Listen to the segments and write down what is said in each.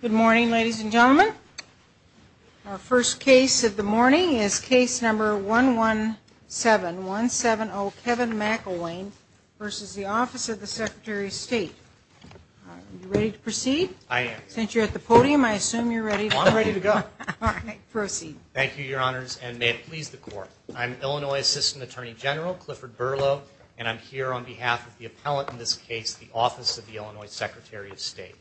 Good morning ladies and gentlemen. Our first case of the morning is case number 117, 170 Kevin McElwain v. Office of the Secretary of State. Are you ready to proceed? I am. Since you're at the podium, I assume you're ready to go. I'm ready to go. All right, proceed. Thank you, Your Honors, and may it please the Court. I'm Illinois Assistant Attorney General Clifford Berlow, and I'm here on behalf of the appellant in this case, the Office of the Illinois Secretary of State.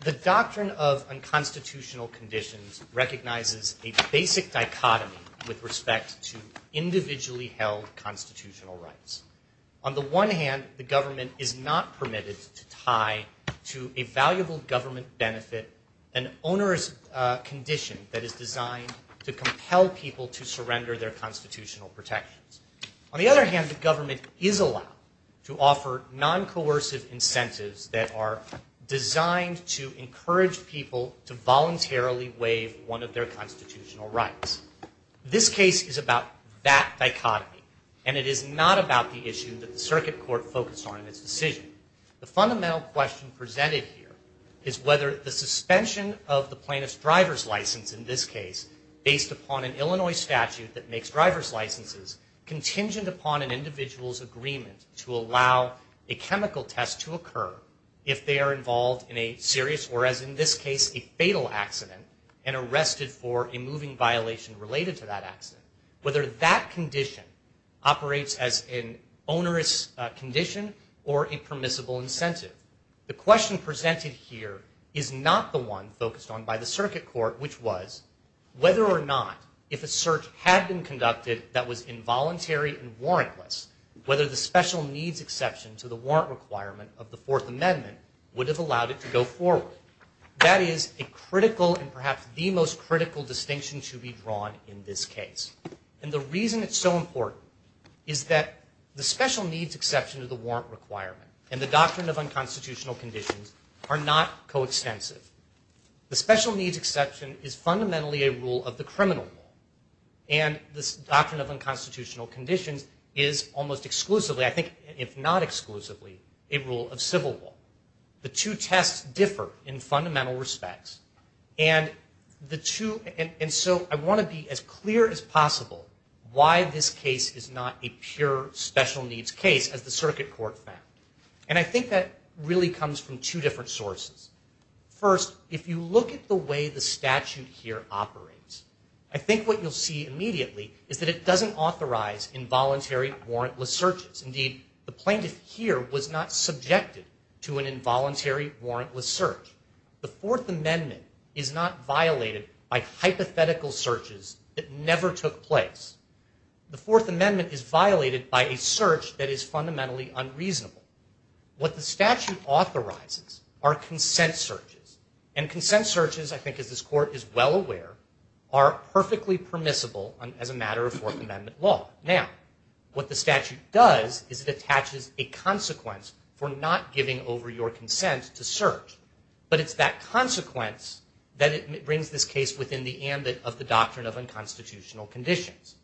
The doctrine of unconstitutional conditions recognizes a basic dichotomy with respect to individually held constitutional rights. On the one hand, the government is not permitted to tie to a valuable government benefit an onerous condition that is designed to compel people to surrender their constitutional protections. On the other hand, the government is allowed to offer non-coercive incentives that are designed to encourage people to voluntarily waive one of their constitutional rights. This case is about that dichotomy, and it is not about the issue that the Circuit Court focused on in its decision. The fundamental question presented here is whether the suspension of the plaintiff's driver's license in this case, based upon an Illinois statute that agreement to allow a chemical test to occur if they are involved in a serious or, as in this case, a fatal accident and arrested for a moving violation related to that accident, whether that condition operates as an onerous condition or a permissible incentive. The question presented here is not the one focused on by the Circuit Court, which was whether or not, if a search had been conducted that was involuntary and warrantless, whether the special needs exception to the warrant requirement of the Fourth Amendment would have allowed it to go forward. That is a critical and perhaps the most critical distinction to be drawn in this case. And the reason it's so important is that the special needs exception to the warrant requirement and the doctrine of unconstitutional conditions are not coextensive. The special needs exception is fundamentally a rule of the criminal law. And this doctrine of unconstitutional conditions is almost exclusively, I think, if not exclusively, a rule of civil law. The two tests differ in fundamental respects. And the two, and so I want to be as clear as possible why this case is not a pure special needs case, as the Circuit Court found. And I think that really comes from two different sources. First, if you look at the way the statute here operates, I think what you'll see immediately is that it doesn't authorize involuntary warrantless searches. Indeed, the plaintiff here was not subjected to an involuntary warrantless search. The Fourth Amendment is not violated by hypothetical searches that never took place. The Fourth Amendment is violated by a search that is voluntary. What the statute authorizes are consent searches. And consent searches, I think as this Court is well aware, are perfectly permissible as a matter of Fourth Amendment law. Now, what the statute does is it attaches a consequence for not giving over your consent to search. But it's that consequence that it brings this case within the ambit of the doctrine of unconstitutional conditions.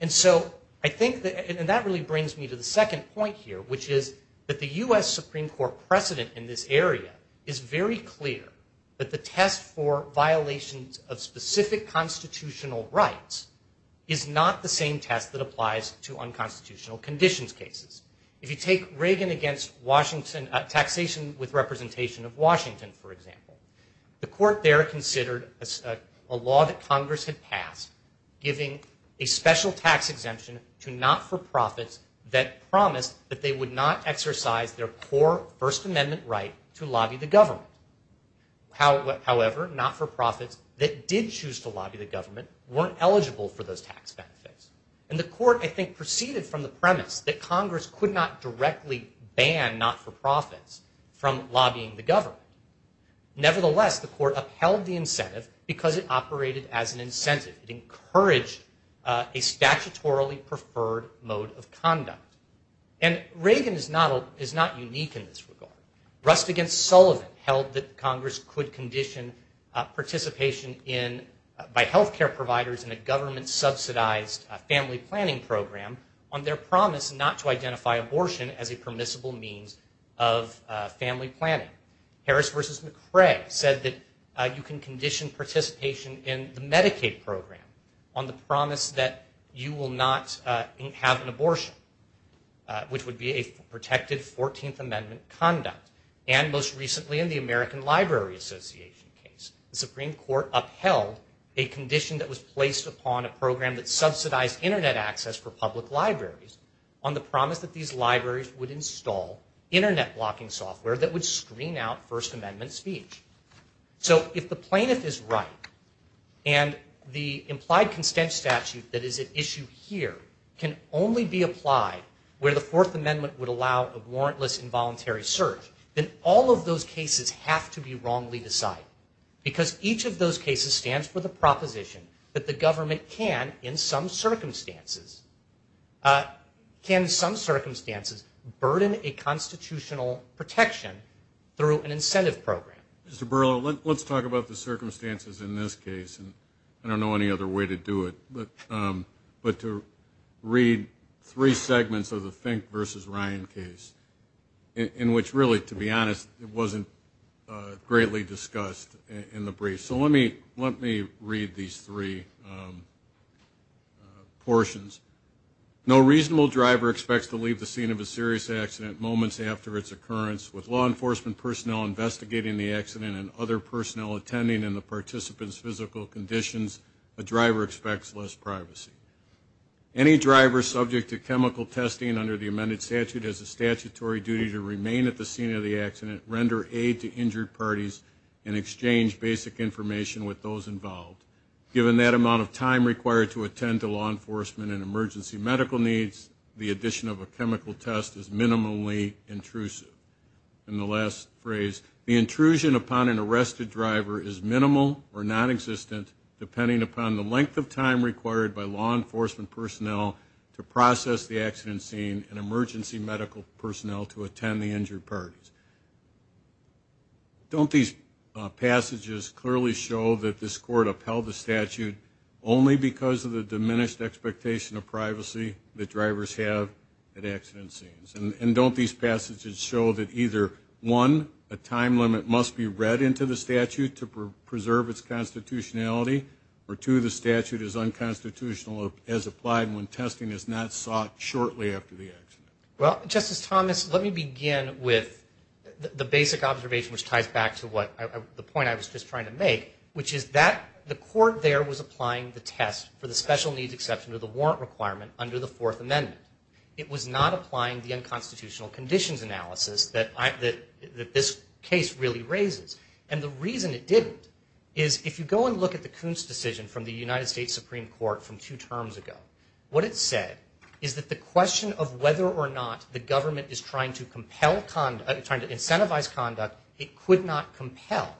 And so I think that, and that really brings me to the second point here, which is that the U.S. Supreme Court precedent in this area is very clear that the test for violations of specific constitutional rights is not the same test that applies to unconstitutional conditions cases. If you take Reagan against taxation with representation of Washington, for example, the Court there considered a law that Congress had passed giving a special tax exemption to not-for-profits that promised that they would not exercise their core First Amendment right to lobby the government. However, not-for-profits that did choose to lobby the government weren't eligible for those tax benefits. And the Court, I think, proceeded from the premise that Congress could not directly ban not-for-profits from lobbying the government. Nevertheless, the Court upheld the incentive because it operated as an incentive. It encouraged a statutorily preferred mode of conduct. And Reagan is not unique in this regard. Rust against Sullivan held that Congress could condition participation by health care providers in a government-subsidized family planning program on their promise not to identify abortion as a permissible means of family planning. Harris v. McCrae said that you can condition participation in the Medicaid program on the promise that you will not have an abortion, which would be a protected 14th Amendment conduct. And most recently in the American Library Association case, the Supreme Court upheld a condition that was placed upon a library would install Internet blocking software that would screen out First Amendment speech. So if the plaintiff is right and the implied consent statute that is at issue here can only be applied where the Fourth Amendment would allow a warrantless involuntary search, then all of those cases have to be wrongly decided. Because each of those cases stands for the proposition that the government can, in some circumstances, can in some circumstances burden a constitutional protection through an incentive program. Mr. Burlow, let's talk about the circumstances in this case. I don't know any other way to do it, but to read three segments of the Fink v. Ryan case, in which really, to be honest, it wasn't greatly discussed in the brief. So let me read these three portions. No reasonable driver expects to leave the scene of a serious accident moments after its occurrence. With law enforcement personnel investigating the accident and other personnel attending and the participant's physical conditions, a driver expects less privacy. Any driver subject to chemical testing under the amended statute has a statutory duty to render aid to injured parties and exchange basic information with those involved. Given that amount of time required to attend to law enforcement and emergency medical needs, the addition of a chemical test is minimally intrusive. And the last phrase, the intrusion upon an arrested driver is minimal or non-existent depending upon the length of time required by law enforcement personnel to process the accident scene and emergency medical personnel to attend the injured parties. Don't these passages clearly show that this court upheld the statute only because of the diminished expectation of privacy that drivers have at accident scenes? And don't these passages show that either, one, a time limit must be read into the statute to preserve its constitutionality, or two, the statute is unconstitutional as applied when testing is not sought shortly after the accident. Well, Justice Thomas, let me begin with the basic observation which ties back to what the point I was just trying to make, which is that the court there was applying the test for the special needs exception to the warrant requirement under the Fourth Amendment. It was not applying the unconstitutional conditions analysis that this case really raises. And the reason it didn't is if you go and look at the Coons decision from the United States Supreme Court from two terms ago, what it said is that the question of whether or not the government is trying to incentivize conduct it could not compel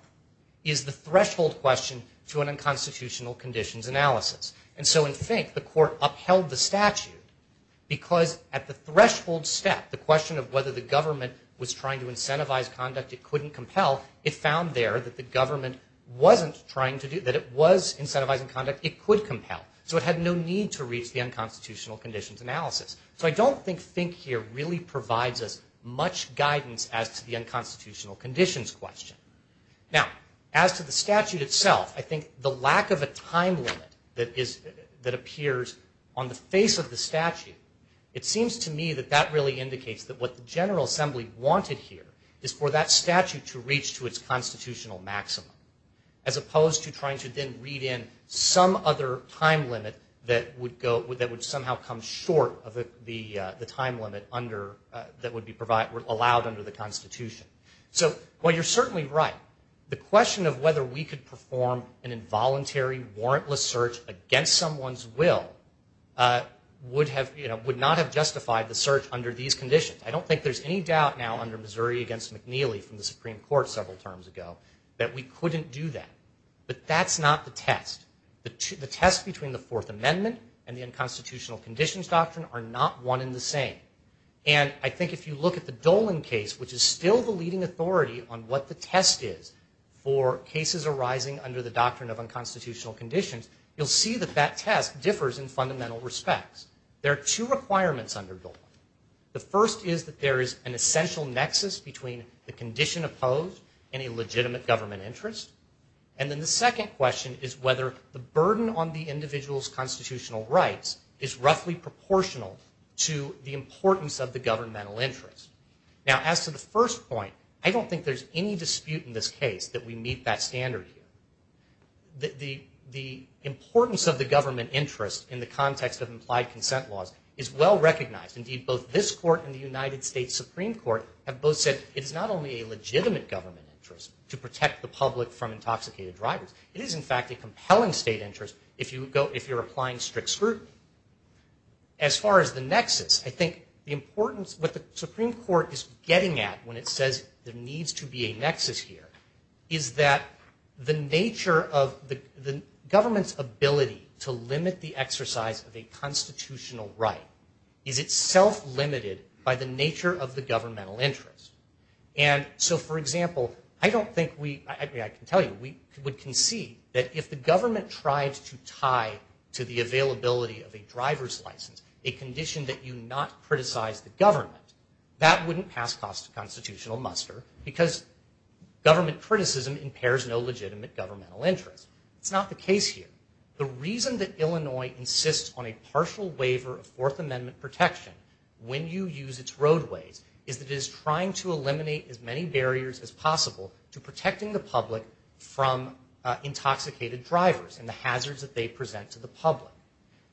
is the threshold question to an unconstitutional conditions analysis. And so in think the court upheld the statute because at the threshold step, the question of whether the government was trying to incentivize conduct it couldn't compel, it found there that the government wasn't trying to do, that it was incentivizing conduct, it could compel. So it had no need to reach the unconstitutional conditions analysis. So I don't think think here really provides us much guidance as to the unconstitutional conditions question. Now, as to the statute itself, I think the lack of a time limit that appears on the face of the statute, it seems to me that that really indicates that what the General Assembly wanted here is for that statute to reach to its constitutional maximum as opposed to trying to then read in some other time limit that would somehow come short of the time limit that would be allowed under the Constitution. So while you're certainly right, the question of whether we could perform an involuntary warrantless search against someone's will would not have justified the search under these conditions. I don't think there's any doubt now under Missouri against McNeely from the Supreme Court several terms ago that we couldn't do that. But that's not the test. The test between the Fourth Amendment and the unconstitutional conditions doctrine are not one and the same. And I think if you look at the Dolan case, which is still the leading authority on what the test is for cases arising under the doctrine of unconstitutional conditions, you'll see that that test differs in fundamental respects. There are two requirements under Dolan. The first is that there is an essential nexus between the condition opposed and a legitimate government interest. And then the second question is whether the burden on the individual's constitutional rights is roughly proportional to the importance of the governmental interest. Now, as to the first point, I don't think there's any dispute in this case that we meet that standard here. The importance of the government interest in the context of implied consent laws is well recognized. Indeed, both this court and the United States Supreme Court have both said it is not only a legitimate government interest to protect the public from intoxicated drivers. It is, in fact, a compelling state interest if you're applying strict scrutiny. As far as the nexus, I think the importance of what the Supreme Court is getting at when it says there needs to be a nexus here is that the nature of the government's ability to limit the exercise of a constitutional right is itself limited by the nature of the governmental interest. And so, for example, I don't think we – I mean, I can tell you, we would concede that if the government tried to tie to the availability of a driver's license a condition that you not criticize the government, that wouldn't pass constitutional muster because government criticism impairs no legitimate governmental interest. It's not the case here. The reason that Illinois insists on a partial waiver of Fourth Amendment protection when you use its roadways is that it is trying to eliminate as many barriers as possible to protecting the public from intoxicated drivers and the hazards that they present to the public.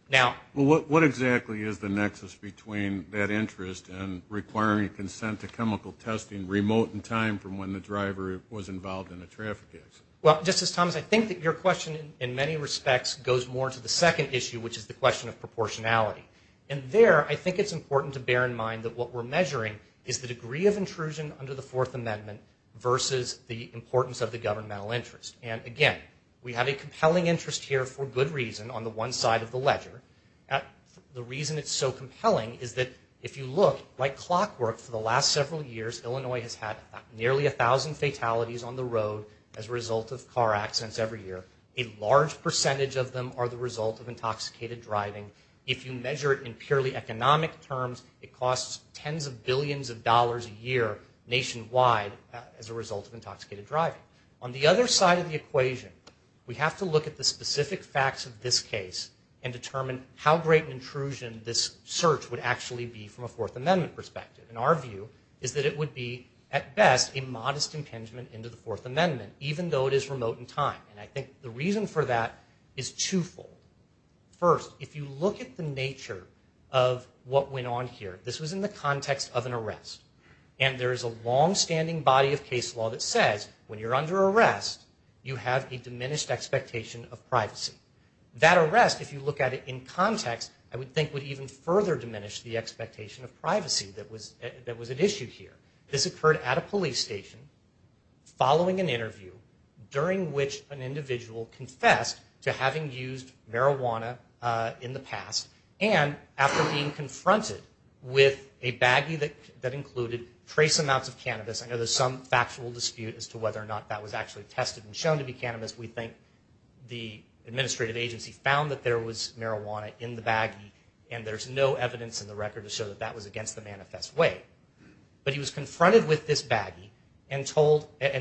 Now – Well, what exactly is the nexus between that interest and requiring consent to chemical testing remote in time from when the driver was involved in a traffic accident? Well, Justice Thomas, I think that your question in many respects goes more to the second issue, which is the question of proportionality. And there, I think it's important to bear in mind that what we're measuring is the degree of intrusion under the Fourth Amendment versus the importance of the governmental interest. And, again, we have a compelling interest here for good reason on the one side of the ledger. The reason it's so compelling is that if you look, like clockwork for the last several years, Illinois has had nearly a thousand fatalities on the road as a result of car accidents every year. A large percentage of them are the result of intoxicated driving. If you measure it in purely economic terms, it costs tens of billions of dollars a year nationwide as a result of intoxicated driving. On the other side of the equation, we have to look at the specific facts of this case and determine how great an intrusion this search would actually be from a Fourth Amendment perspective. And our view is that it would be, at best, a modest impingement into the Fourth Amendment, even though it is remote in time. And I think the reason for that is twofold. First, if you look at the nature of what went on here, this was in the context of an arrest. And there is a longstanding body of case law that says when you're under arrest, you have a diminished expectation of privacy. That arrest, if you look at it in context, I would think would even further diminish the expectation of privacy that was at issue here. This occurred at a police station, following an interview, during which an individual confessed to having used marijuana in the past and after being confronted with a baggie that included trace amounts of cannabis. I know there's some factual dispute as to whether or not that was actually tested and shown to be cannabis. We think the administrative agency found that there was marijuana in the baggie, and there's no evidence in the record to show that that was against the manifest way. But he was confronted with this baggie and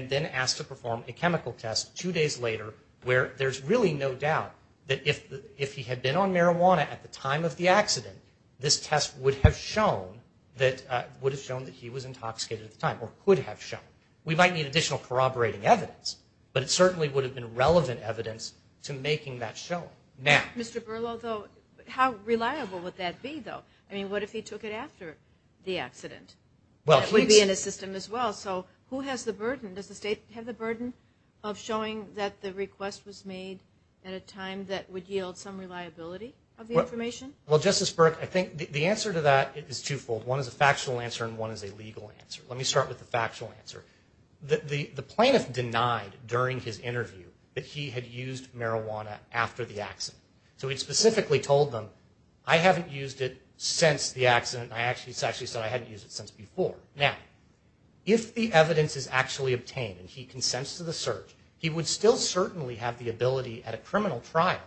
then asked to perform a chemical test two days later, where there's really no doubt that if he had been on marijuana at the time of the accident, this test would have shown that he was intoxicated at the time, or could have shown. We might need additional corroborating evidence, but it certainly would have been relevant evidence to making that shown. Mr. Berlow, how reliable would that be, though? I mean, what if he took it after the accident? It would be in his system as well. So who has the burden? Does the state have the burden of showing that the request was made at a time that would yield some reliability of the information? Well, Justice Burke, I think the answer to that is twofold. One is a factual answer, and one is a legal answer. Let me start with the factual answer. The plaintiff denied during his interview that he had used marijuana after the accident. So he specifically told them, I haven't used it since the accident. He actually said, I hadn't used it since before. Now, if the evidence is actually obtained and he consents to the search, he would still certainly have the ability at a criminal trial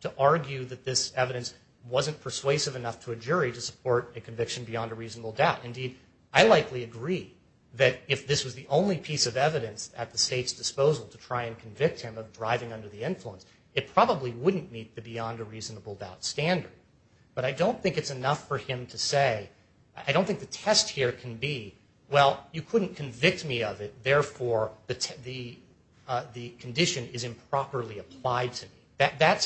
to argue that this evidence wasn't persuasive enough to a jury to support a conviction beyond a reasonable doubt. Indeed, I likely agree that if this was the only piece of evidence at the state's disposal to try and convict him of driving under the influence, it probably wouldn't meet the beyond a reasonable doubt standard. But I don't think it's enough for him to say, I don't think the test here can be, well, you couldn't convict me of it, therefore the condition is improperly applied to me. That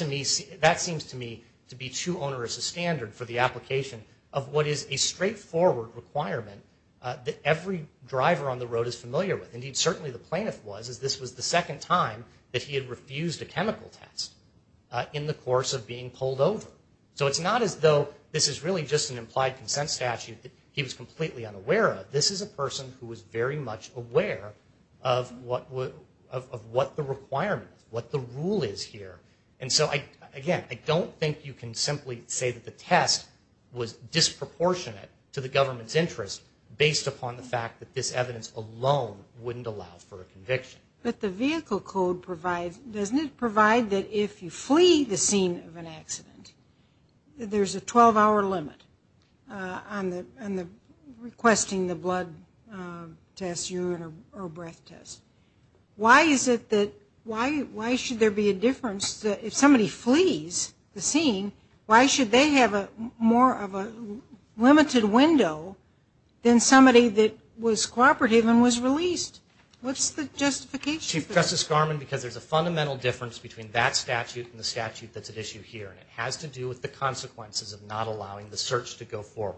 seems to me to be too onerous a standard for the application of what is a straightforward requirement that every driver on the road is familiar with. Indeed, certainly the plaintiff was, as this was the second time that he had refused a chemical test in the course of being pulled over. So it's not as though this is really just an implied consent statute that he was completely unaware of. This is a person who was very much aware of what the requirement, what the rule is here. Again, I don't think you can simply say that the test was disproportionate to the government's interest based upon the fact that this evidence alone wouldn't allow for a conviction. But the vehicle code provides, doesn't it provide that if you flee the scene of an accident, there's a 12-hour limit on requesting the blood test, urine, or breath test. Why is it that, why should there be a difference if somebody flees the scene, why should they have more of a limited window than somebody that was cooperative and was released? What's the justification? Chief Justice Garmon, because there's a fundamental difference between that statute and the statute that's at issue here, and it has to do with the consequences of not allowing the search to go forward.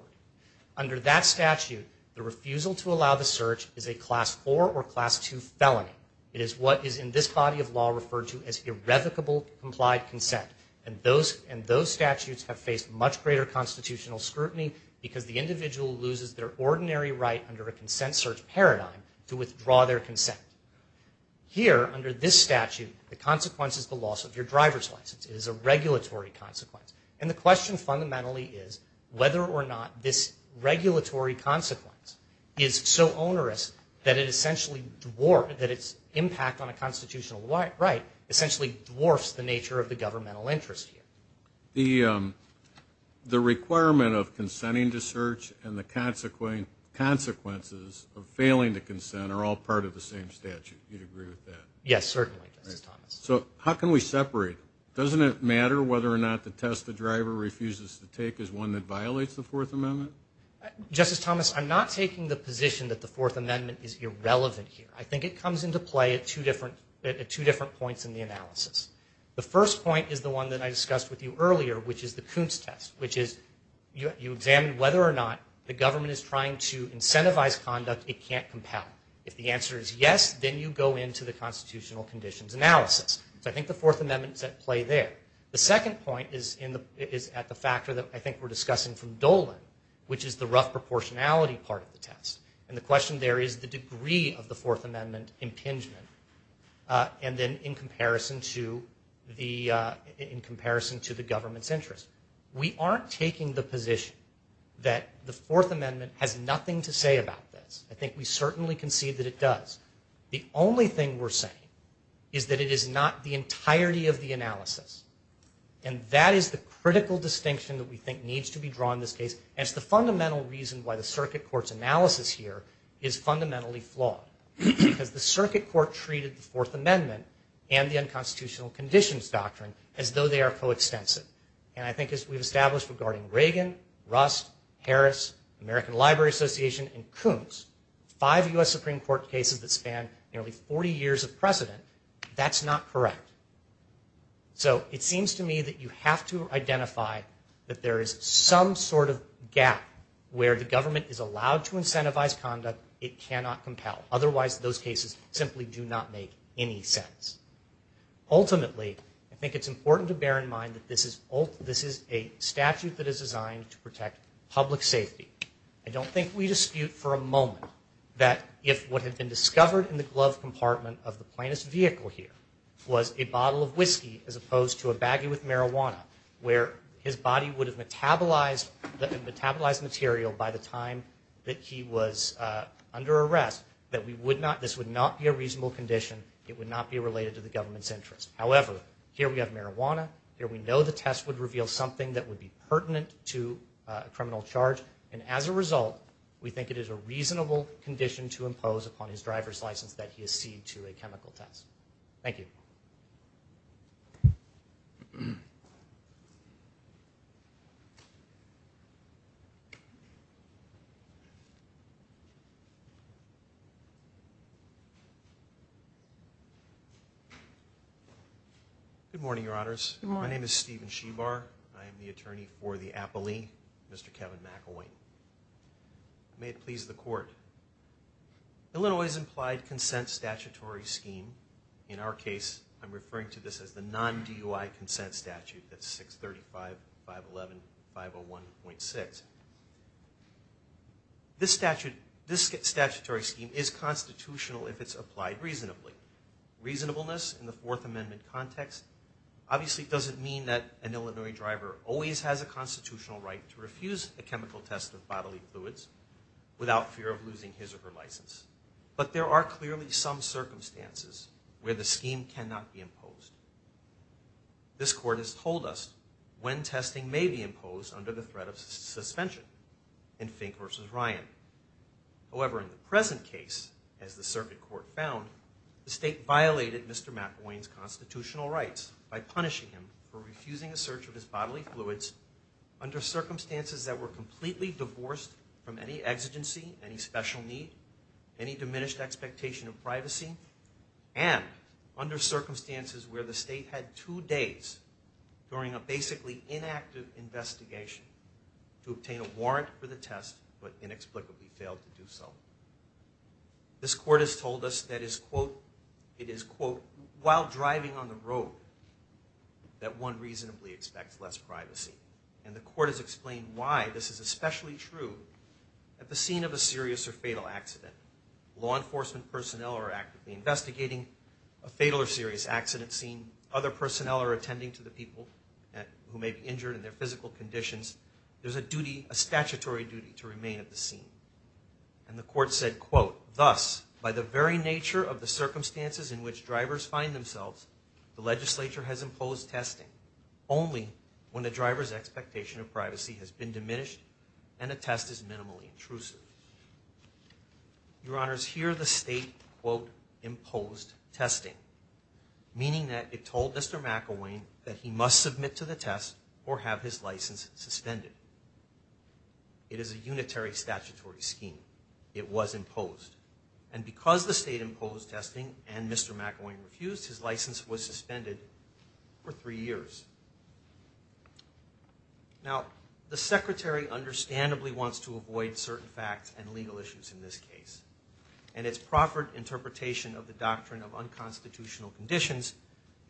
Under that statute, the refusal to allow the search is a Class 4 or Class 2 felony. It is what is in this body of law referred to as irrevocable complied consent. And those statutes have faced much greater constitutional scrutiny because the individual loses their ordinary right under a consent search paradigm to withdraw their consent. Here, under this statute, the consequence is the loss of your driver's license. It is a regulatory consequence. And the question fundamentally is whether or not this regulatory consequence is so onerous that it essentially dwarfs, that its impact on a constitutional right essentially dwarfs the nature of the governmental interest here. The requirement of consenting to search and the consequences of failing to consent are all part of the same statute. You'd agree with that? Yes, certainly, Justice Thomas. So how can we separate? Doesn't it matter whether or not the test the driver refuses to take is one that violates the Fourth Amendment? Justice Thomas, I'm not taking the position that the Fourth Amendment is irrelevant here. I think it comes into play at two different points in the analysis. The first point is the one that I discussed with you earlier, which is the Kuntz test, which is you examine whether or not the government is trying to incentivize conduct it can't compel. If the answer is yes, then you go into the constitutional conditions analysis. So I think the Fourth Amendment is at play there. The second point is at the factor that I think we're discussing from Dolan, which is the rough proportionality part of the test. And the question there is the degree of the Fourth Amendment impingement and then in comparison to the government's interest. We aren't taking the position that the Fourth Amendment has nothing to say about this. I think we certainly concede that it does. The only thing we're saying is that it is not the entirety of the analysis, and that is the critical distinction that we think needs to be drawn in this case, and it's the fundamental reason why the circuit court's analysis here is fundamentally flawed, because the circuit court treated the Fourth Amendment and the unconstitutional conditions doctrine as though they are coextensive. And I think as we've established regarding Reagan, Rust, Harris, American Library Association, and Coombs, five U.S. Supreme Court cases that span nearly 40 years of precedent, that's not correct. So it seems to me that you have to identify that there is some sort of gap where the government is allowed to incentivize conduct it cannot compel. Otherwise, those cases simply do not make any sense. Ultimately, I think it's important to bear in mind that this is a statute that is designed to protect public safety. I don't think we dispute for a moment that if what had been discovered in the glove compartment of the plaintiff's vehicle here was a bottle of whiskey as opposed to a baggie with marijuana, where his body would have metabolized material by the time that he was under arrest, that this would not be a reasonable condition. It would not be related to the government's interest. However, here we have marijuana. Here we know the test would reveal something that would be pertinent to a criminal charge. And as a result, we think it is a reasonable condition to impose upon his driver's license that he accede to a chemical test. Thank you. Good morning, Your Honors. Good morning. My name is Stephen Shebar. I am the attorney for the appellee, Mr. Kevin McElwain. May it please the court. Illinois' implied consent statutory scheme, in our case, I'm referring to this as the non-DUI consent statute. That's 635.511.501.6. This statutory scheme is constitutional if it's applied reasonably. Reasonableness in the Fourth Amendment context obviously doesn't mean that an Illinois driver always has a constitutional right to refuse a chemical test of bodily fluids without fear of losing his or her license. But there are clearly some circumstances where the scheme cannot be imposed. This court has told us when testing may be imposed under the threat of suspension in Fink v. Ryan. However, in the present case, as the circuit court found, the state violated Mr. McElwain's constitutional rights by punishing him for refusing a search of his bodily fluids under circumstances that were completely divorced from any exigency, any special need, any diminished expectation of privacy, and under circumstances where the state had two days during a basically inactive investigation to obtain a warrant for the test but inexplicably failed to do so. This court has told us that it is, quote, while driving on the road that one reasonably expects less privacy. And the court has explained why this is especially true at the scene of a serious or fatal accident. Law enforcement personnel are actively investigating a fatal or serious accident scene. Other personnel are attending to the people who may be injured and their physical conditions. There's a statutory duty to remain at the scene. And the court said, quote, thus, by the very nature of the circumstances in which drivers find themselves, the legislature has imposed testing only when a driver's expectation of privacy has been diminished and a test is minimally intrusive. Your Honors, here the state, quote, imposed testing, meaning that it told Mr. McElwain that he must submit to the test or have his license suspended. It is a unitary statutory scheme. It was imposed. And because the state imposed testing and Mr. McElwain refused, his license was suspended for three years. Now, the Secretary understandably wants to avoid certain facts and legal issues in this case. And its proffered interpretation of the doctrine of unconstitutional conditions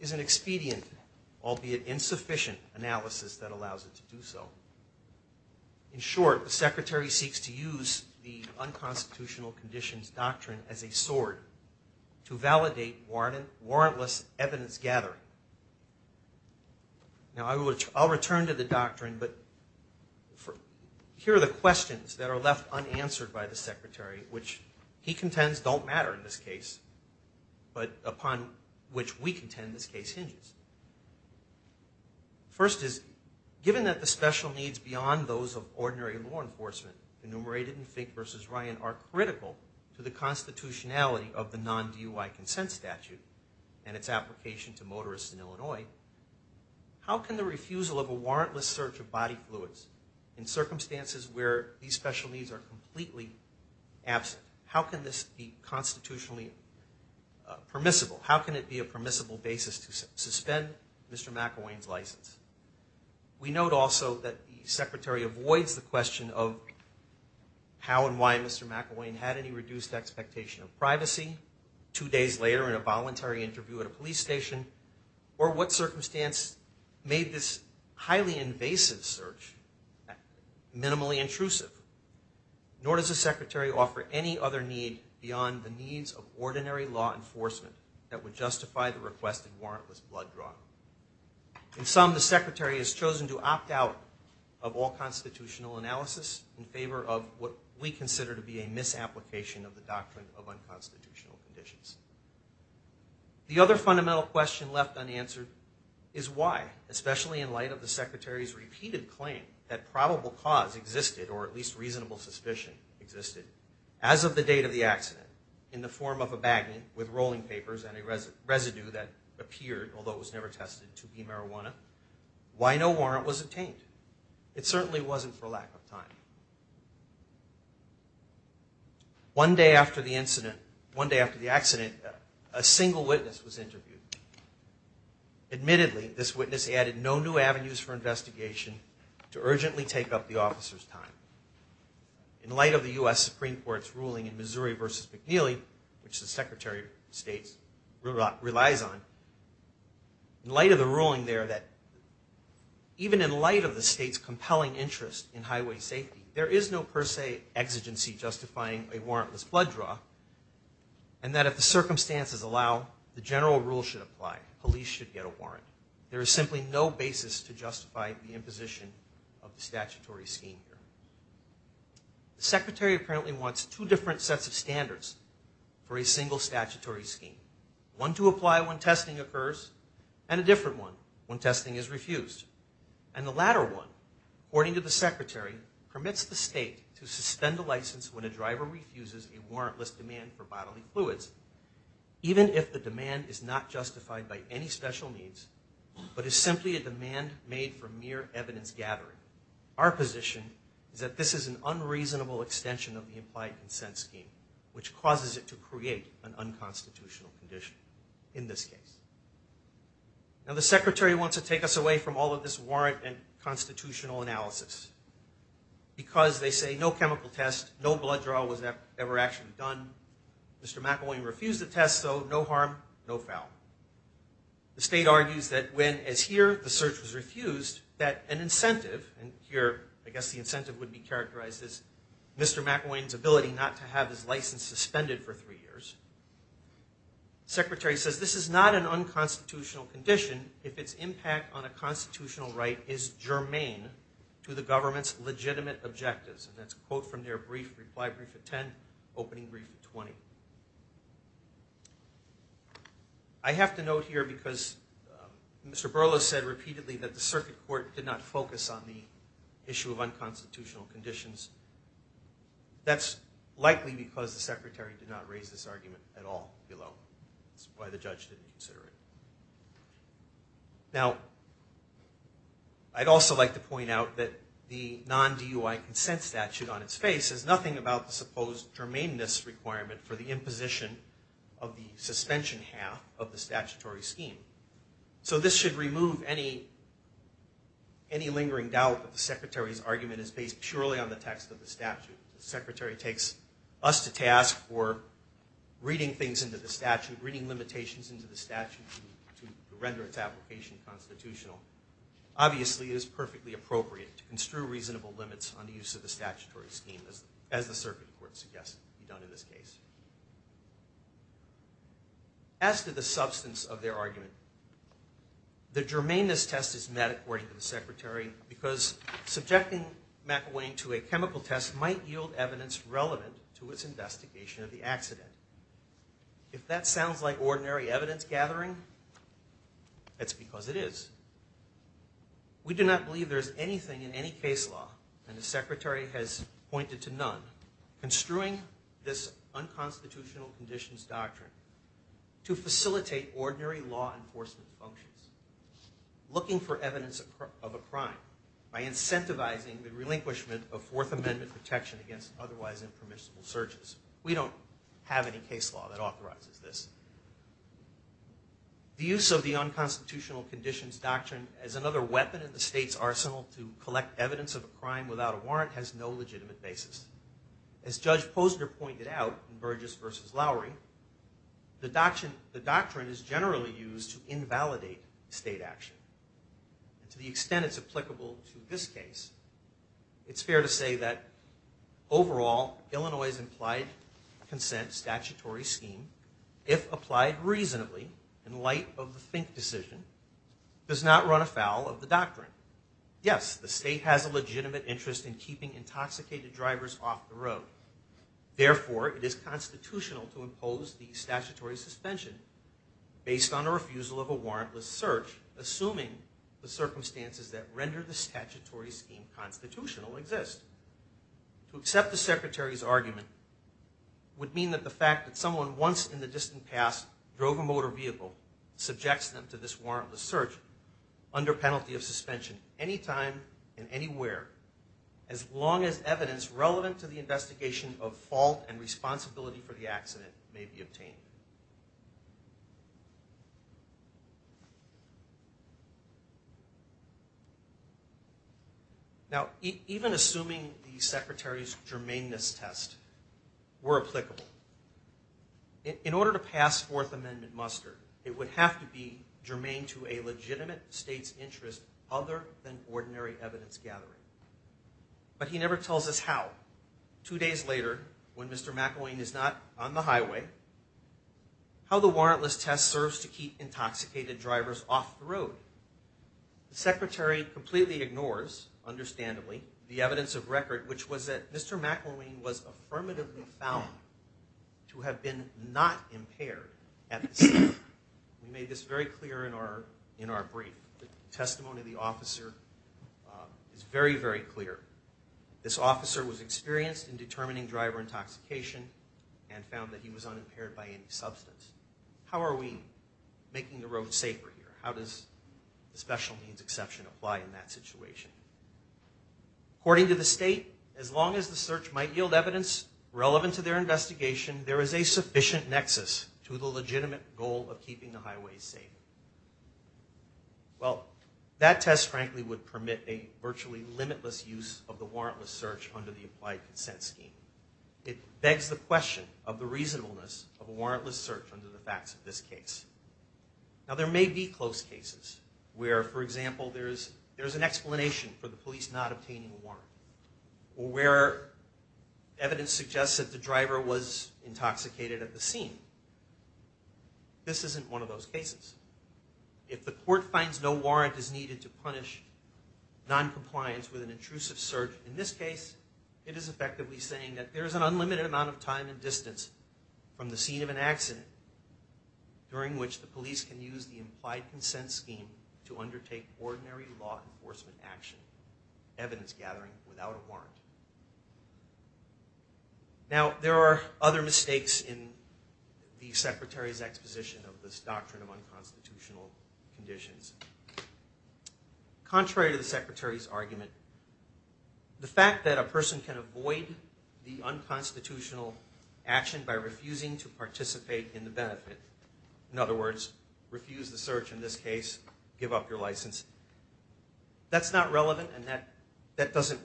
is an expedient, albeit insufficient, analysis that allows it to do so. In short, the Secretary seeks to use the unconstitutional conditions doctrine as a sword to validate warrantless evidence gathering. Now, I'll return to the doctrine, but here are the questions that are left unanswered by the Secretary, which he contends don't matter in this case, but upon which we contend this case hinges. First is, given that the special needs beyond those of ordinary law enforcement, enumerated in Fink v. Ryan, are critical to the constitutionality of the non-DUI consent statute and its application to motorists in Illinois, how can the refusal of a warrantless search of body fluids in circumstances where these special needs are completely absent, how can this be constitutionally permissible? How can it be a permissible basis to suspend Mr. McElwain's license? We note also that the Secretary avoids the question of how and why Mr. McElwain had any reduced expectation of privacy two days later in a voluntary interview at a police station, or what circumstance made this highly invasive search minimally intrusive. Nor does the Secretary offer any other need beyond the needs of ordinary law enforcement that would justify the requested warrantless blood draw. In sum, the Secretary has chosen to opt out of all constitutional analysis in favor of what we consider to be a misapplication of the doctrine of unconstitutional conditions. The other fundamental question left unanswered is why, especially in light of the Secretary's repeated claim that probable cause existed, or at least reasonable suspicion existed, as of the date of the accident, in the form of a bagnet with rolling papers and a residue that appeared, although it was never tested, to be marijuana, why no warrant was obtained? It certainly wasn't for lack of time. One day after the accident, a single witness was interviewed. Admittedly, this witness added no new avenues for investigation to urgently take up the officer's time. In light of the U.S. Supreme Court's ruling in Missouri v. McNeely, which the Secretary of State relies on, in light of the ruling there that, even in light of the state's compelling interest in highway safety, there is no per se exigency justifying a warrantless blood draw, and that if the circumstances allow, the general rule should apply. Police should get a warrant. There is simply no basis to justify the imposition of the statutory scheme. The Secretary apparently wants two different sets of standards for a single statutory scheme. One to apply when testing occurs, and a different one when testing is refused. And the latter one, according to the Secretary, permits the state to suspend a license when a driver refuses a warrantless demand for bodily fluids, even if the demand is not justified by any special needs, but is simply a demand made for mere evidence gathering. Our position is that this is an unreasonable extension of the implied consent scheme, which causes it to create an unconstitutional condition in this case. Now, the Secretary wants to take us away from all of this warrant and constitutional analysis, because they say no chemical test, no blood draw was ever actually done. Mr. McElwain refused the test, so no harm, no foul. The state argues that when, as here, the search was refused, that an incentive, and here, I guess the incentive would be characterized as Mr. McElwain's ability not to have his license suspended for three years. The Secretary says this is not an unconstitutional condition if its impact on a constitutional right is germane to the government's legitimate objectives. And that's a quote from their brief, reply brief at 10, opening brief at 20. I have to note here, because Mr. Burless said repeatedly that the Circuit Court did not focus on the issue of unconstitutional conditions, that's likely because the Secretary did not raise this argument at all below. That's why the judge didn't consider it. Now, I'd also like to point out that the non-DUI consent statute on its face says nothing about the supposed germaneness requirement for the imposition of the suspension half of the statutory scheme. So this should remove any lingering doubt that the Secretary's argument is based purely on the text of the statute. The Secretary takes us to task for reading things into the statute, reading limitations into the statute to render its application constitutional. Obviously, it is perfectly appropriate to construe reasonable limits on the use of the statutory scheme, as the Circuit Court suggests to be done in this case. As to the substance of their argument, the germaneness test is met, according to the Secretary, because subjecting McElwain to a chemical test might yield evidence relevant to its investigation of the accident. If that sounds like ordinary evidence gathering, that's because it is. We do not believe there is anything in any case law, and the Secretary has pointed to none, construing this unconstitutional conditions doctrine to facilitate ordinary law enforcement functions. Looking for evidence of a crime by incentivizing the relinquishment of Fourth Amendment protection against otherwise impermissible searches. We don't have any case law that authorizes this. The use of the unconstitutional conditions doctrine as another weapon in the state's arsenal to collect evidence of a crime without a warrant has no legitimate basis. As Judge Posner pointed out in Burgess v. Lowery, the doctrine is generally used to invalidate state action. To the extent it's applicable to this case, it's fair to say that, overall, Illinois' implied consent statutory scheme, if applied reasonably in light of the Fink decision, does not run afoul of the doctrine. Yes, the state has a legitimate interest in keeping intoxicated drivers off the road. Therefore, it is constitutional to impose the statutory suspension based on a refusal of a warrantless search, assuming the circumstances that render the statutory scheme constitutional exist. To accept the Secretary's argument would mean that the fact that someone once in the distant past drove a motor vehicle, subjects them to this warrantless search under penalty of suspension anytime and anywhere as long as evidence relevant to the investigation of fault and responsibility for the accident may be obtained. Now, even assuming the Secretary's germaneness test were applicable, in order to pass Fourth Amendment muster, it would have to be germane to a legitimate state's interest other than ordinary evidence gathering. But he never tells us how. Two days later, when Mr. McElwain is not on the highway, how the warrantless test serves to keep intoxicated drivers off the road. The Secretary completely ignores, understandably, the evidence of record, which was that Mr. McElwain was affirmatively found to have been not impaired at the scene. We made this very clear in our brief. The testimony of the officer is very, very clear. This officer was experienced in determining driver intoxication and found that he was unimpaired by any substance. How are we making the road safer here? How does the special means exception apply in that situation? According to the state, as long as the search might yield evidence relevant to their investigation, there is a sufficient nexus to the legitimate goal of keeping the highways safe. Well, that test, frankly, would permit a virtually limitless use of the warrantless search under the Applied Consent Scheme. It begs the question of the reasonableness of a warrantless search under the facts of this case. Now, there may be close cases where, for example, there's an explanation for the police not obtaining a warrant, or where evidence suggests that the driver was intoxicated at the scene. This isn't one of those cases. If the court finds no warrant is needed to punish noncompliance with an intrusive search in this case, it is effectively saying that there is an unlimited amount of time and distance from the scene of an accident during which the police can use the Implied Consent Scheme to undertake ordinary law enforcement action, evidence gathering, without a warrant. Now, there are other mistakes in the Secretary's exposition of this doctrine of unconstitutional conditions. Contrary to the Secretary's argument, the fact that a person can avoid the unconstitutional action by refusing to participate in the benefit, in other words, refuse the search in this case, give up your license, that's not relevant, and that doesn't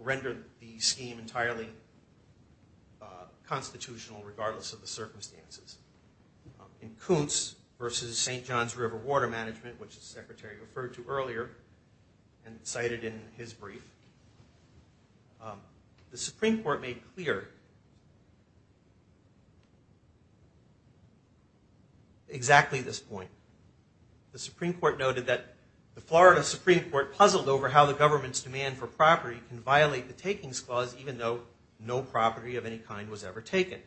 render the scheme entirely constitutional, regardless of the circumstances. In Kuntz v. St. John's River Water Management, which the Secretary referred to earlier and cited in his brief, the Supreme Court made clear exactly this point. The Supreme Court noted that the Florida Supreme Court puzzled over how the government's demand for property can violate the Takings Clause even though no property of any kind was ever taken.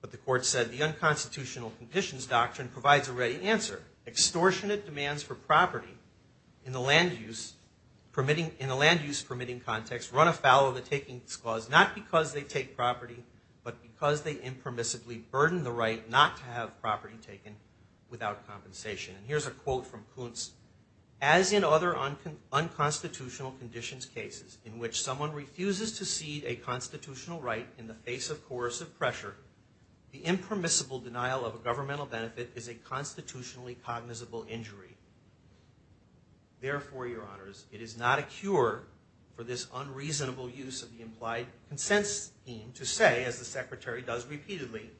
But the Court said the unconstitutional conditions doctrine provides a ready answer. Extortionate demands for property in the land use permitting context run afoul of the Takings Clause, not because they take property, but because they impermissibly burden the right not to have property taken without compensation. And here's a quote from Kuntz. As in other unconstitutional conditions cases in which someone refuses to cede a constitutional right in the face of coercive pressure, the impermissible denial of a governmental benefit is a constitutionally cognizable injury. Therefore, Your Honors, it is not a cure for this unreasonable use of the implied consent scheme to say, as the Secretary does repeatedly,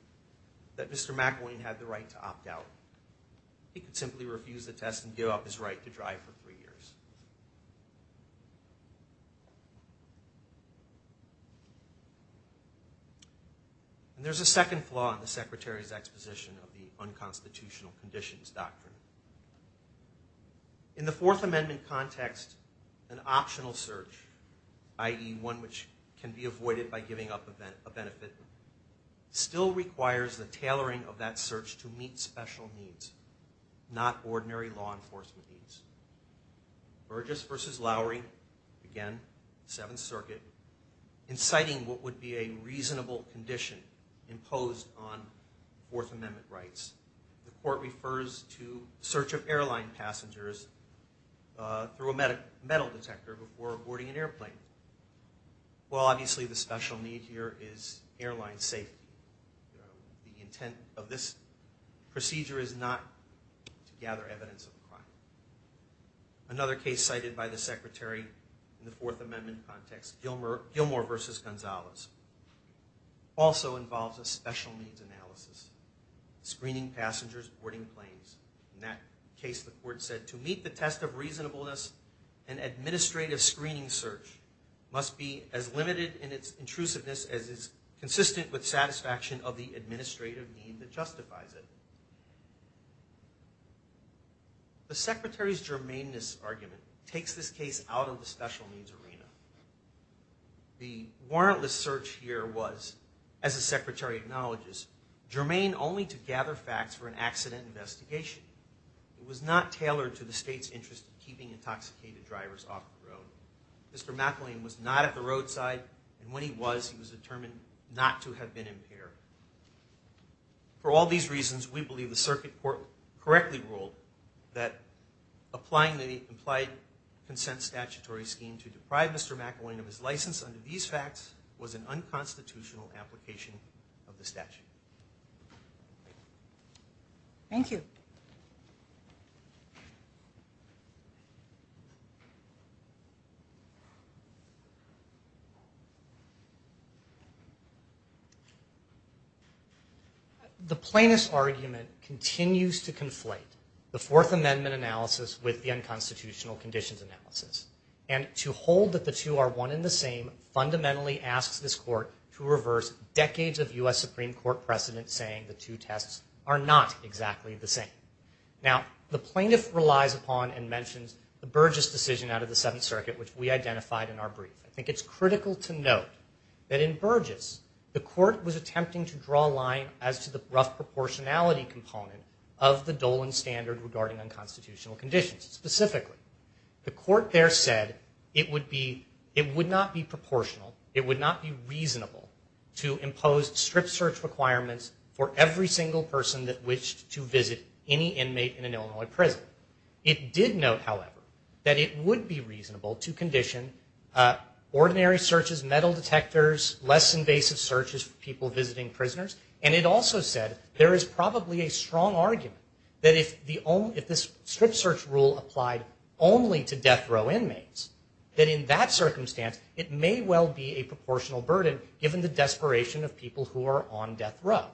that Mr. McElwain had the right to opt out. He could simply refuse the test and give up his right to drive for three years. There's a second flaw in the Secretary's exposition of the unconstitutional conditions doctrine. In the Fourth Amendment context, an optional search, i.e. one which can be avoided by giving up a benefit, still requires the tailoring of that search to meet special needs, not ordinary law enforcement needs. Burgess v. Lowry, again, Seventh Circuit, inciting what would be a reasonable condition imposed on Fourth Amendment rights. The Court refers to the search of airline passengers through a metal detector before boarding an airplane. Well, obviously, the special need here is airline safety. The intent of this procedure is not to gather evidence of a crime. Another case cited by the Secretary in the Fourth Amendment context, Gilmore v. Gonzalez, also involves a special needs analysis, screening passengers boarding planes. In that case, the Court said, to meet the test of reasonableness an administrative screening search must be as limited in its intrusiveness as is consistent with satisfaction of the administrative need that justifies it. The Secretary's germaneness argument takes this case out of the special needs arena. The warrantless search here was, as the Secretary acknowledges, germane only to gather facts for an accident investigation. It was not tailored to the State's interest in keeping intoxicated drivers off the road. Mr. McElwain was not at the roadside, and when he was, he was determined not to have been impaired. For all these reasons, we believe the Circuit Court correctly ruled that applying the implied consent statutory scheme to deprive Mr. McElwain of his license under these facts was an unconstitutional application of the statute. Thank you. The plaintiff's argument continues to conflate the Fourth Amendment analysis with the unconstitutional conditions analysis. And to hold that the two are one and the same fundamentally asks this court to reverse decades of U.S. Supreme Court precedent saying the two tests are not exactly the same. Now, the plaintiff relies upon and mentions the Burgess decision out of the Seventh Circuit which we identified in our brief. I think it's critical to note that in Burgess, the court was attempting to draw a line as to the rough proportionality component of the Dolan standard regarding unconstitutional conditions. Specifically, the court there said it would not be proportional, it would not be reasonable to impose strip search requirements for every single person that wished to visit any inmate in an Illinois prison. It did note, however, that it would be reasonable to condition ordinary searches, metal detectors, less invasive searches for people visiting prisoners, and it also said there is probably a strong argument that if this strip search rule applied only to death row inmates, that in that circumstance it may well be a proportional burden given the desperation of people who are on death row.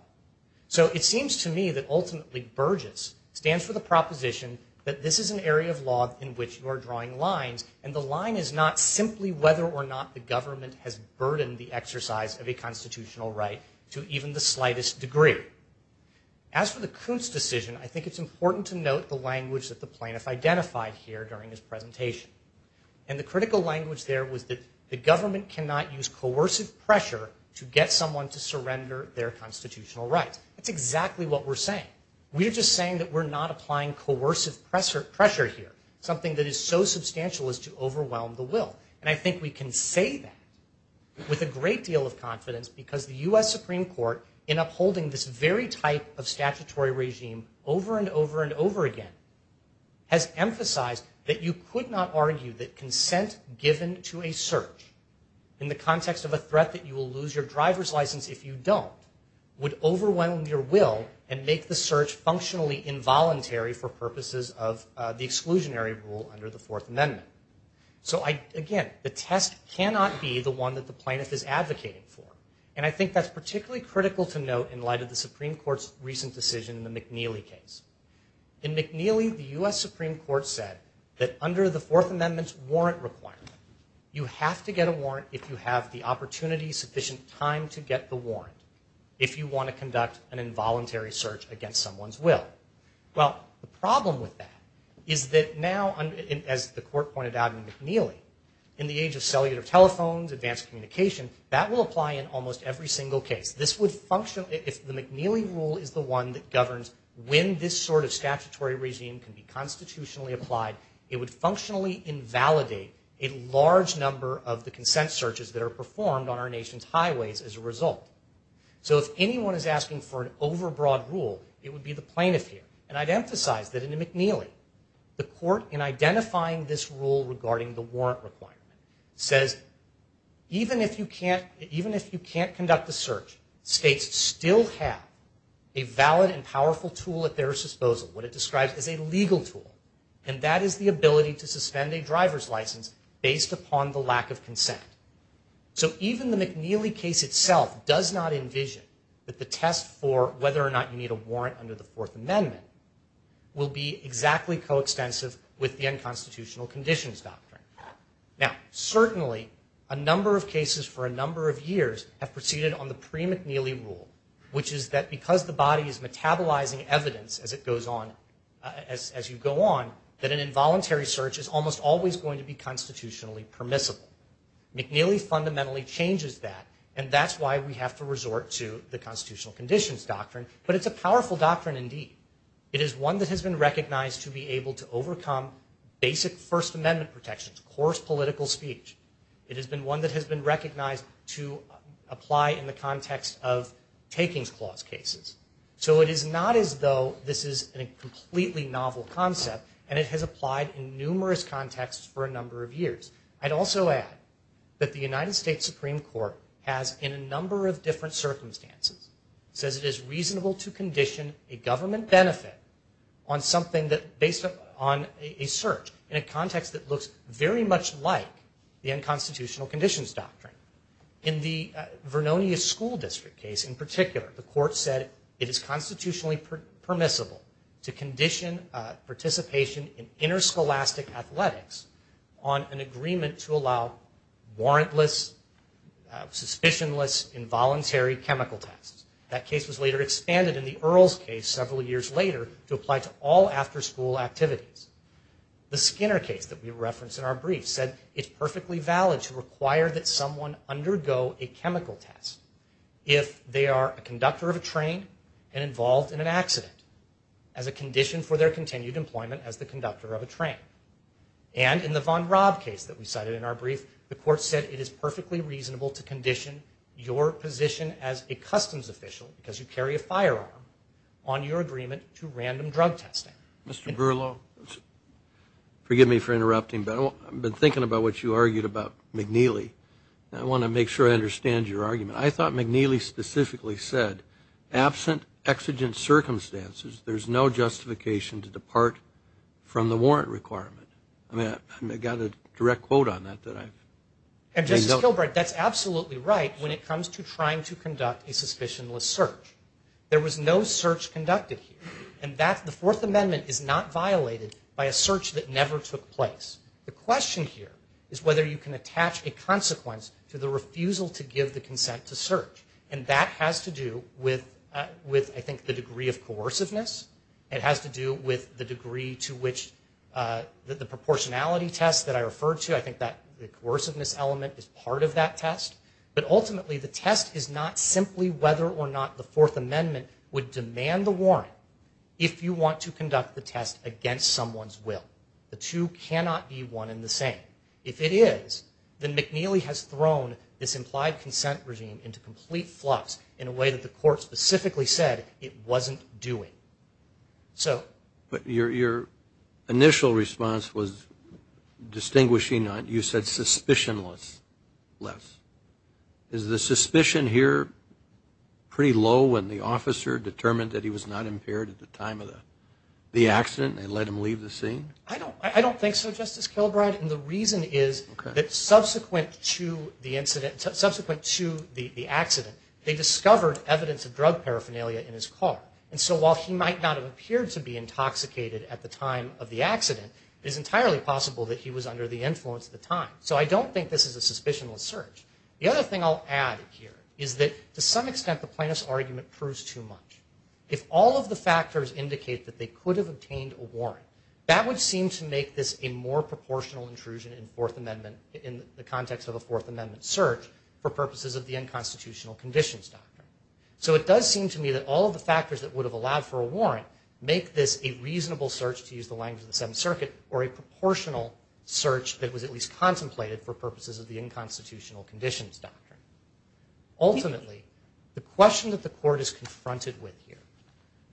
So it seems to me that ultimately Burgess stands for the proposition that this is an area of law in which you are drawing lines, and the line is not simply whether or not the government has burdened the exercise of a constitutional right to even the slightest degree. As for the Kuntz decision, I think it's important to note the language that the plaintiff identified here during his presentation. And the critical language there was that the government cannot use coercive pressure to get someone to surrender their constitutional rights. That's exactly what we're saying. We're just saying that we're not applying coercive pressure here, something that is so substantial as to overwhelm the will. And I think we can say that with a great deal of confidence because the U.S. Supreme Court, in upholding this very type of statutory regime over and over and over again, has emphasized that you could not argue that consent given to a search in the context of a threat that you will lose your driver's license if you don't would overwhelm your will and make the search functionally involuntary for purposes of the exclusionary rule under the Fourth Amendment. So again, the test cannot be the one that the plaintiff is advocating for. And I think that's particularly critical to note in light of the Supreme Court's recent decision in the McNeely case. In McNeely, the U.S. Supreme Court said that under the Fourth Amendment's warrant requirement, you have to get a warrant if you have the opportunity, sufficient time to get the warrant if you want to conduct an involuntary search against someone's will. Well, the problem with that is that now, as the Court pointed out in McNeely, in the age of cellular telephones, advanced communication, that will apply in almost every single case. If the McNeely rule is the one that governs when this sort of statutory regime can be constitutionally applied, it would functionally invalidate a large number as a result. So if anyone is asking for an overbroad rule, it would be the plaintiff here. And I'd emphasize that in McNeely, the Court, in identifying this rule regarding the warrant requirement, says even if you can't conduct the search, states still have a valid and powerful tool at their disposal, what it describes as a legal tool. And that is the ability to suspend a driver's license based upon the lack of consent. So even the McNeely case itself does not envision that the test for whether or not you need a warrant under the Fourth Amendment will be exactly coextensive with the unconstitutional conditions doctrine. Now, certainly, a number of cases for a number of years have proceeded on the pre-McNeely rule, which is that because the body is metabolizing evidence as you go on, that an involuntary search is almost always going to be constitutionally permissible. McNeely fundamentally changes that, and that's why we have to resort to the constitutional conditions doctrine. But it's a powerful doctrine indeed. It is one that has been recognized to be able to overcome basic First Amendment protections, coarse political speech. It has been one that has been recognized to apply in the context of takings clause cases. So it is not as though this is a completely novel concept, and it has applied in numerous contexts for a number of years. I'd also add that the United States Supreme Court has, in a number of different circumstances, says it is reasonable to condition a government benefit on something based on a search in a context that looks very much like the unconstitutional conditions doctrine. In the Vernonia School District case in particular, the court said it is constitutionally permissible to condition participation in interscholastic athletics on an agreement to allow warrantless, suspicionless, involuntary chemical tests. That case was later expanded in the Earls case several years later to apply to all after-school activities. The Skinner case that we referenced in our brief said it's perfectly valid to require that someone undergo a chemical test if they are a conductor of a train and involved in an accident as a condition for their continued employment as the conductor of a train. And in the Von Raab case that we cited in our brief, the court said it is perfectly reasonable to condition your position as a customs official, because you carry a firearm, on your agreement to random drug testing. Mr. Berlow, forgive me for interrupting, but I've been thinking about what you argued about McNeely, and I want to make sure I understand your argument. I thought McNeely specifically said, absent exigent circumstances, there's no justification to depart from the warrant requirement. I mean, I got a direct quote on that. And, Justice Kilbrey, that's absolutely right when it comes to trying to conduct a suspicionless search. There was no search conducted here, and the Fourth Amendment is not violated by a search that never took place. The question here is whether you can attach a consequence to the refusal to give the consent to search, and that has to do with, I think, the degree of coerciveness. It has to do with the degree to which the proportionality test that I referred to, I think the coerciveness element is part of that test. But ultimately, the test is not simply whether or not the Fourth Amendment would demand the warrant if you want to conduct the test against someone's will. The two cannot be one and the same. If it is, then McNeely has thrown this implied consent regime into complete flux in a way that the court specifically said it wasn't doing. But your initial response was distinguishing on, you said, suspicionless. Is the suspicion here pretty low when the officer determined that he was not impaired at the time of the accident and let him leave the scene? I don't think so, Justice Kilbrey. And the reason is that subsequent to the incident, the accident, they discovered evidence of drug paraphernalia in his car. And so while he might not have appeared to be intoxicated at the time of the accident, it is entirely possible that he was under the influence at the time. So I don't think this is a suspicionless search. The other thing I'll add here is that to some extent the plaintiff's argument proves too much. If all of the factors indicate that they could have obtained a warrant, that would seem to make this a more proportional intrusion in the context of a Fourth Amendment search for purposes of the unconstitutional conditions doctrine. So it does seem to me that all of the factors that would have allowed for a warrant make this a reasonable search, to use the language of the Seventh Circuit, or a proportional search that was at least contemplated for purposes of the unconstitutional conditions doctrine. Ultimately, the question that the court is confronted with here,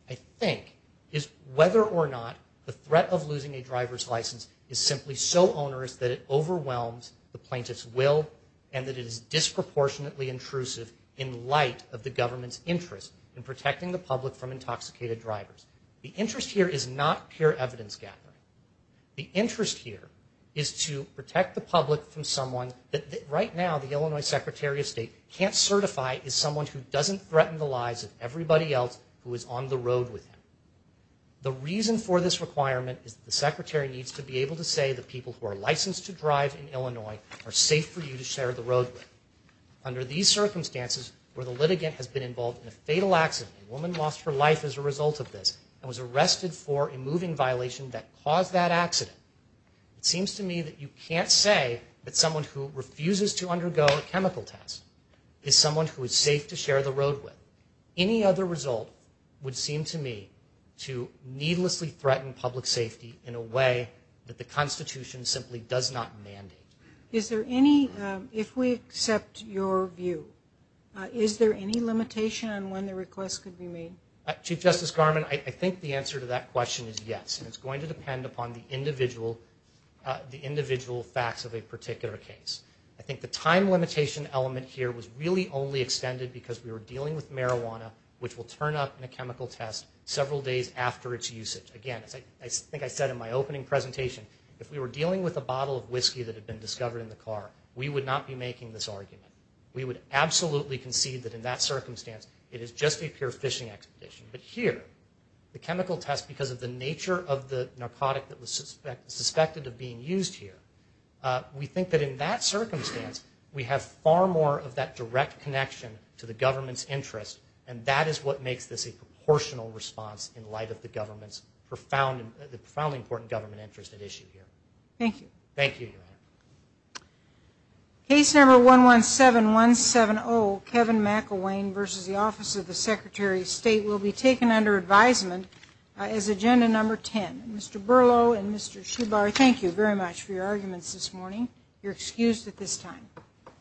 I think, is whether or not the threat of losing a driver's license is simply so onerous that it overwhelms the plaintiff's will and that it is disproportionately intrusive in light of the government's interest in protecting the public from intoxicated drivers. The interest here is not pure evidence gathering. The interest here is to protect the public from someone that right now the Illinois Secretary of State can't certify as someone who doesn't threaten the lives of everybody else who is on the road with him. The reason for this requirement is that the Secretary needs to be able to say that people who are licensed to drive in Illinois are safe for you to share the road with. Under these circumstances, where the litigant has been involved in a fatal accident, a woman lost her life as a result of this, and was arrested for a moving violation that caused that accident, it seems to me that you can't say that someone who refuses to undergo a chemical test is someone who is safe to share the road with. Any other result would seem to me to needlessly threaten public safety in a way that the Constitution simply does not mandate. Is there any, if we accept your view, is there any limitation on when the request could be made? Chief Justice Garmon, I think the answer to that question is yes, and it's going to depend upon the individual facts of a particular case. I think the time limitation element here was really only extended because we were dealing with marijuana, which will turn up in a chemical test several days after its usage. Again, as I think I said in my opening presentation, if we were dealing with a bottle of whiskey that had been discovered in the car, we would not be making this argument. We would absolutely concede that in that circumstance, it is just a pure fishing expedition. But here, the chemical test, because of the nature of the narcotic that was suspected of being used here, we think that in that circumstance, we have far more of that direct connection to the government's interest, and that is what makes this a proportional response in light of the profoundly important government interest at issue here. Thank you. Thank you, Your Honor. Case number 117170, Kevin McElwain v. The Office of the Secretary of State, will be taken under advisement as agenda number 10. Mr. Berlow and Mr. Shubar, thank you very much for your arguments this morning. You're excused at this time.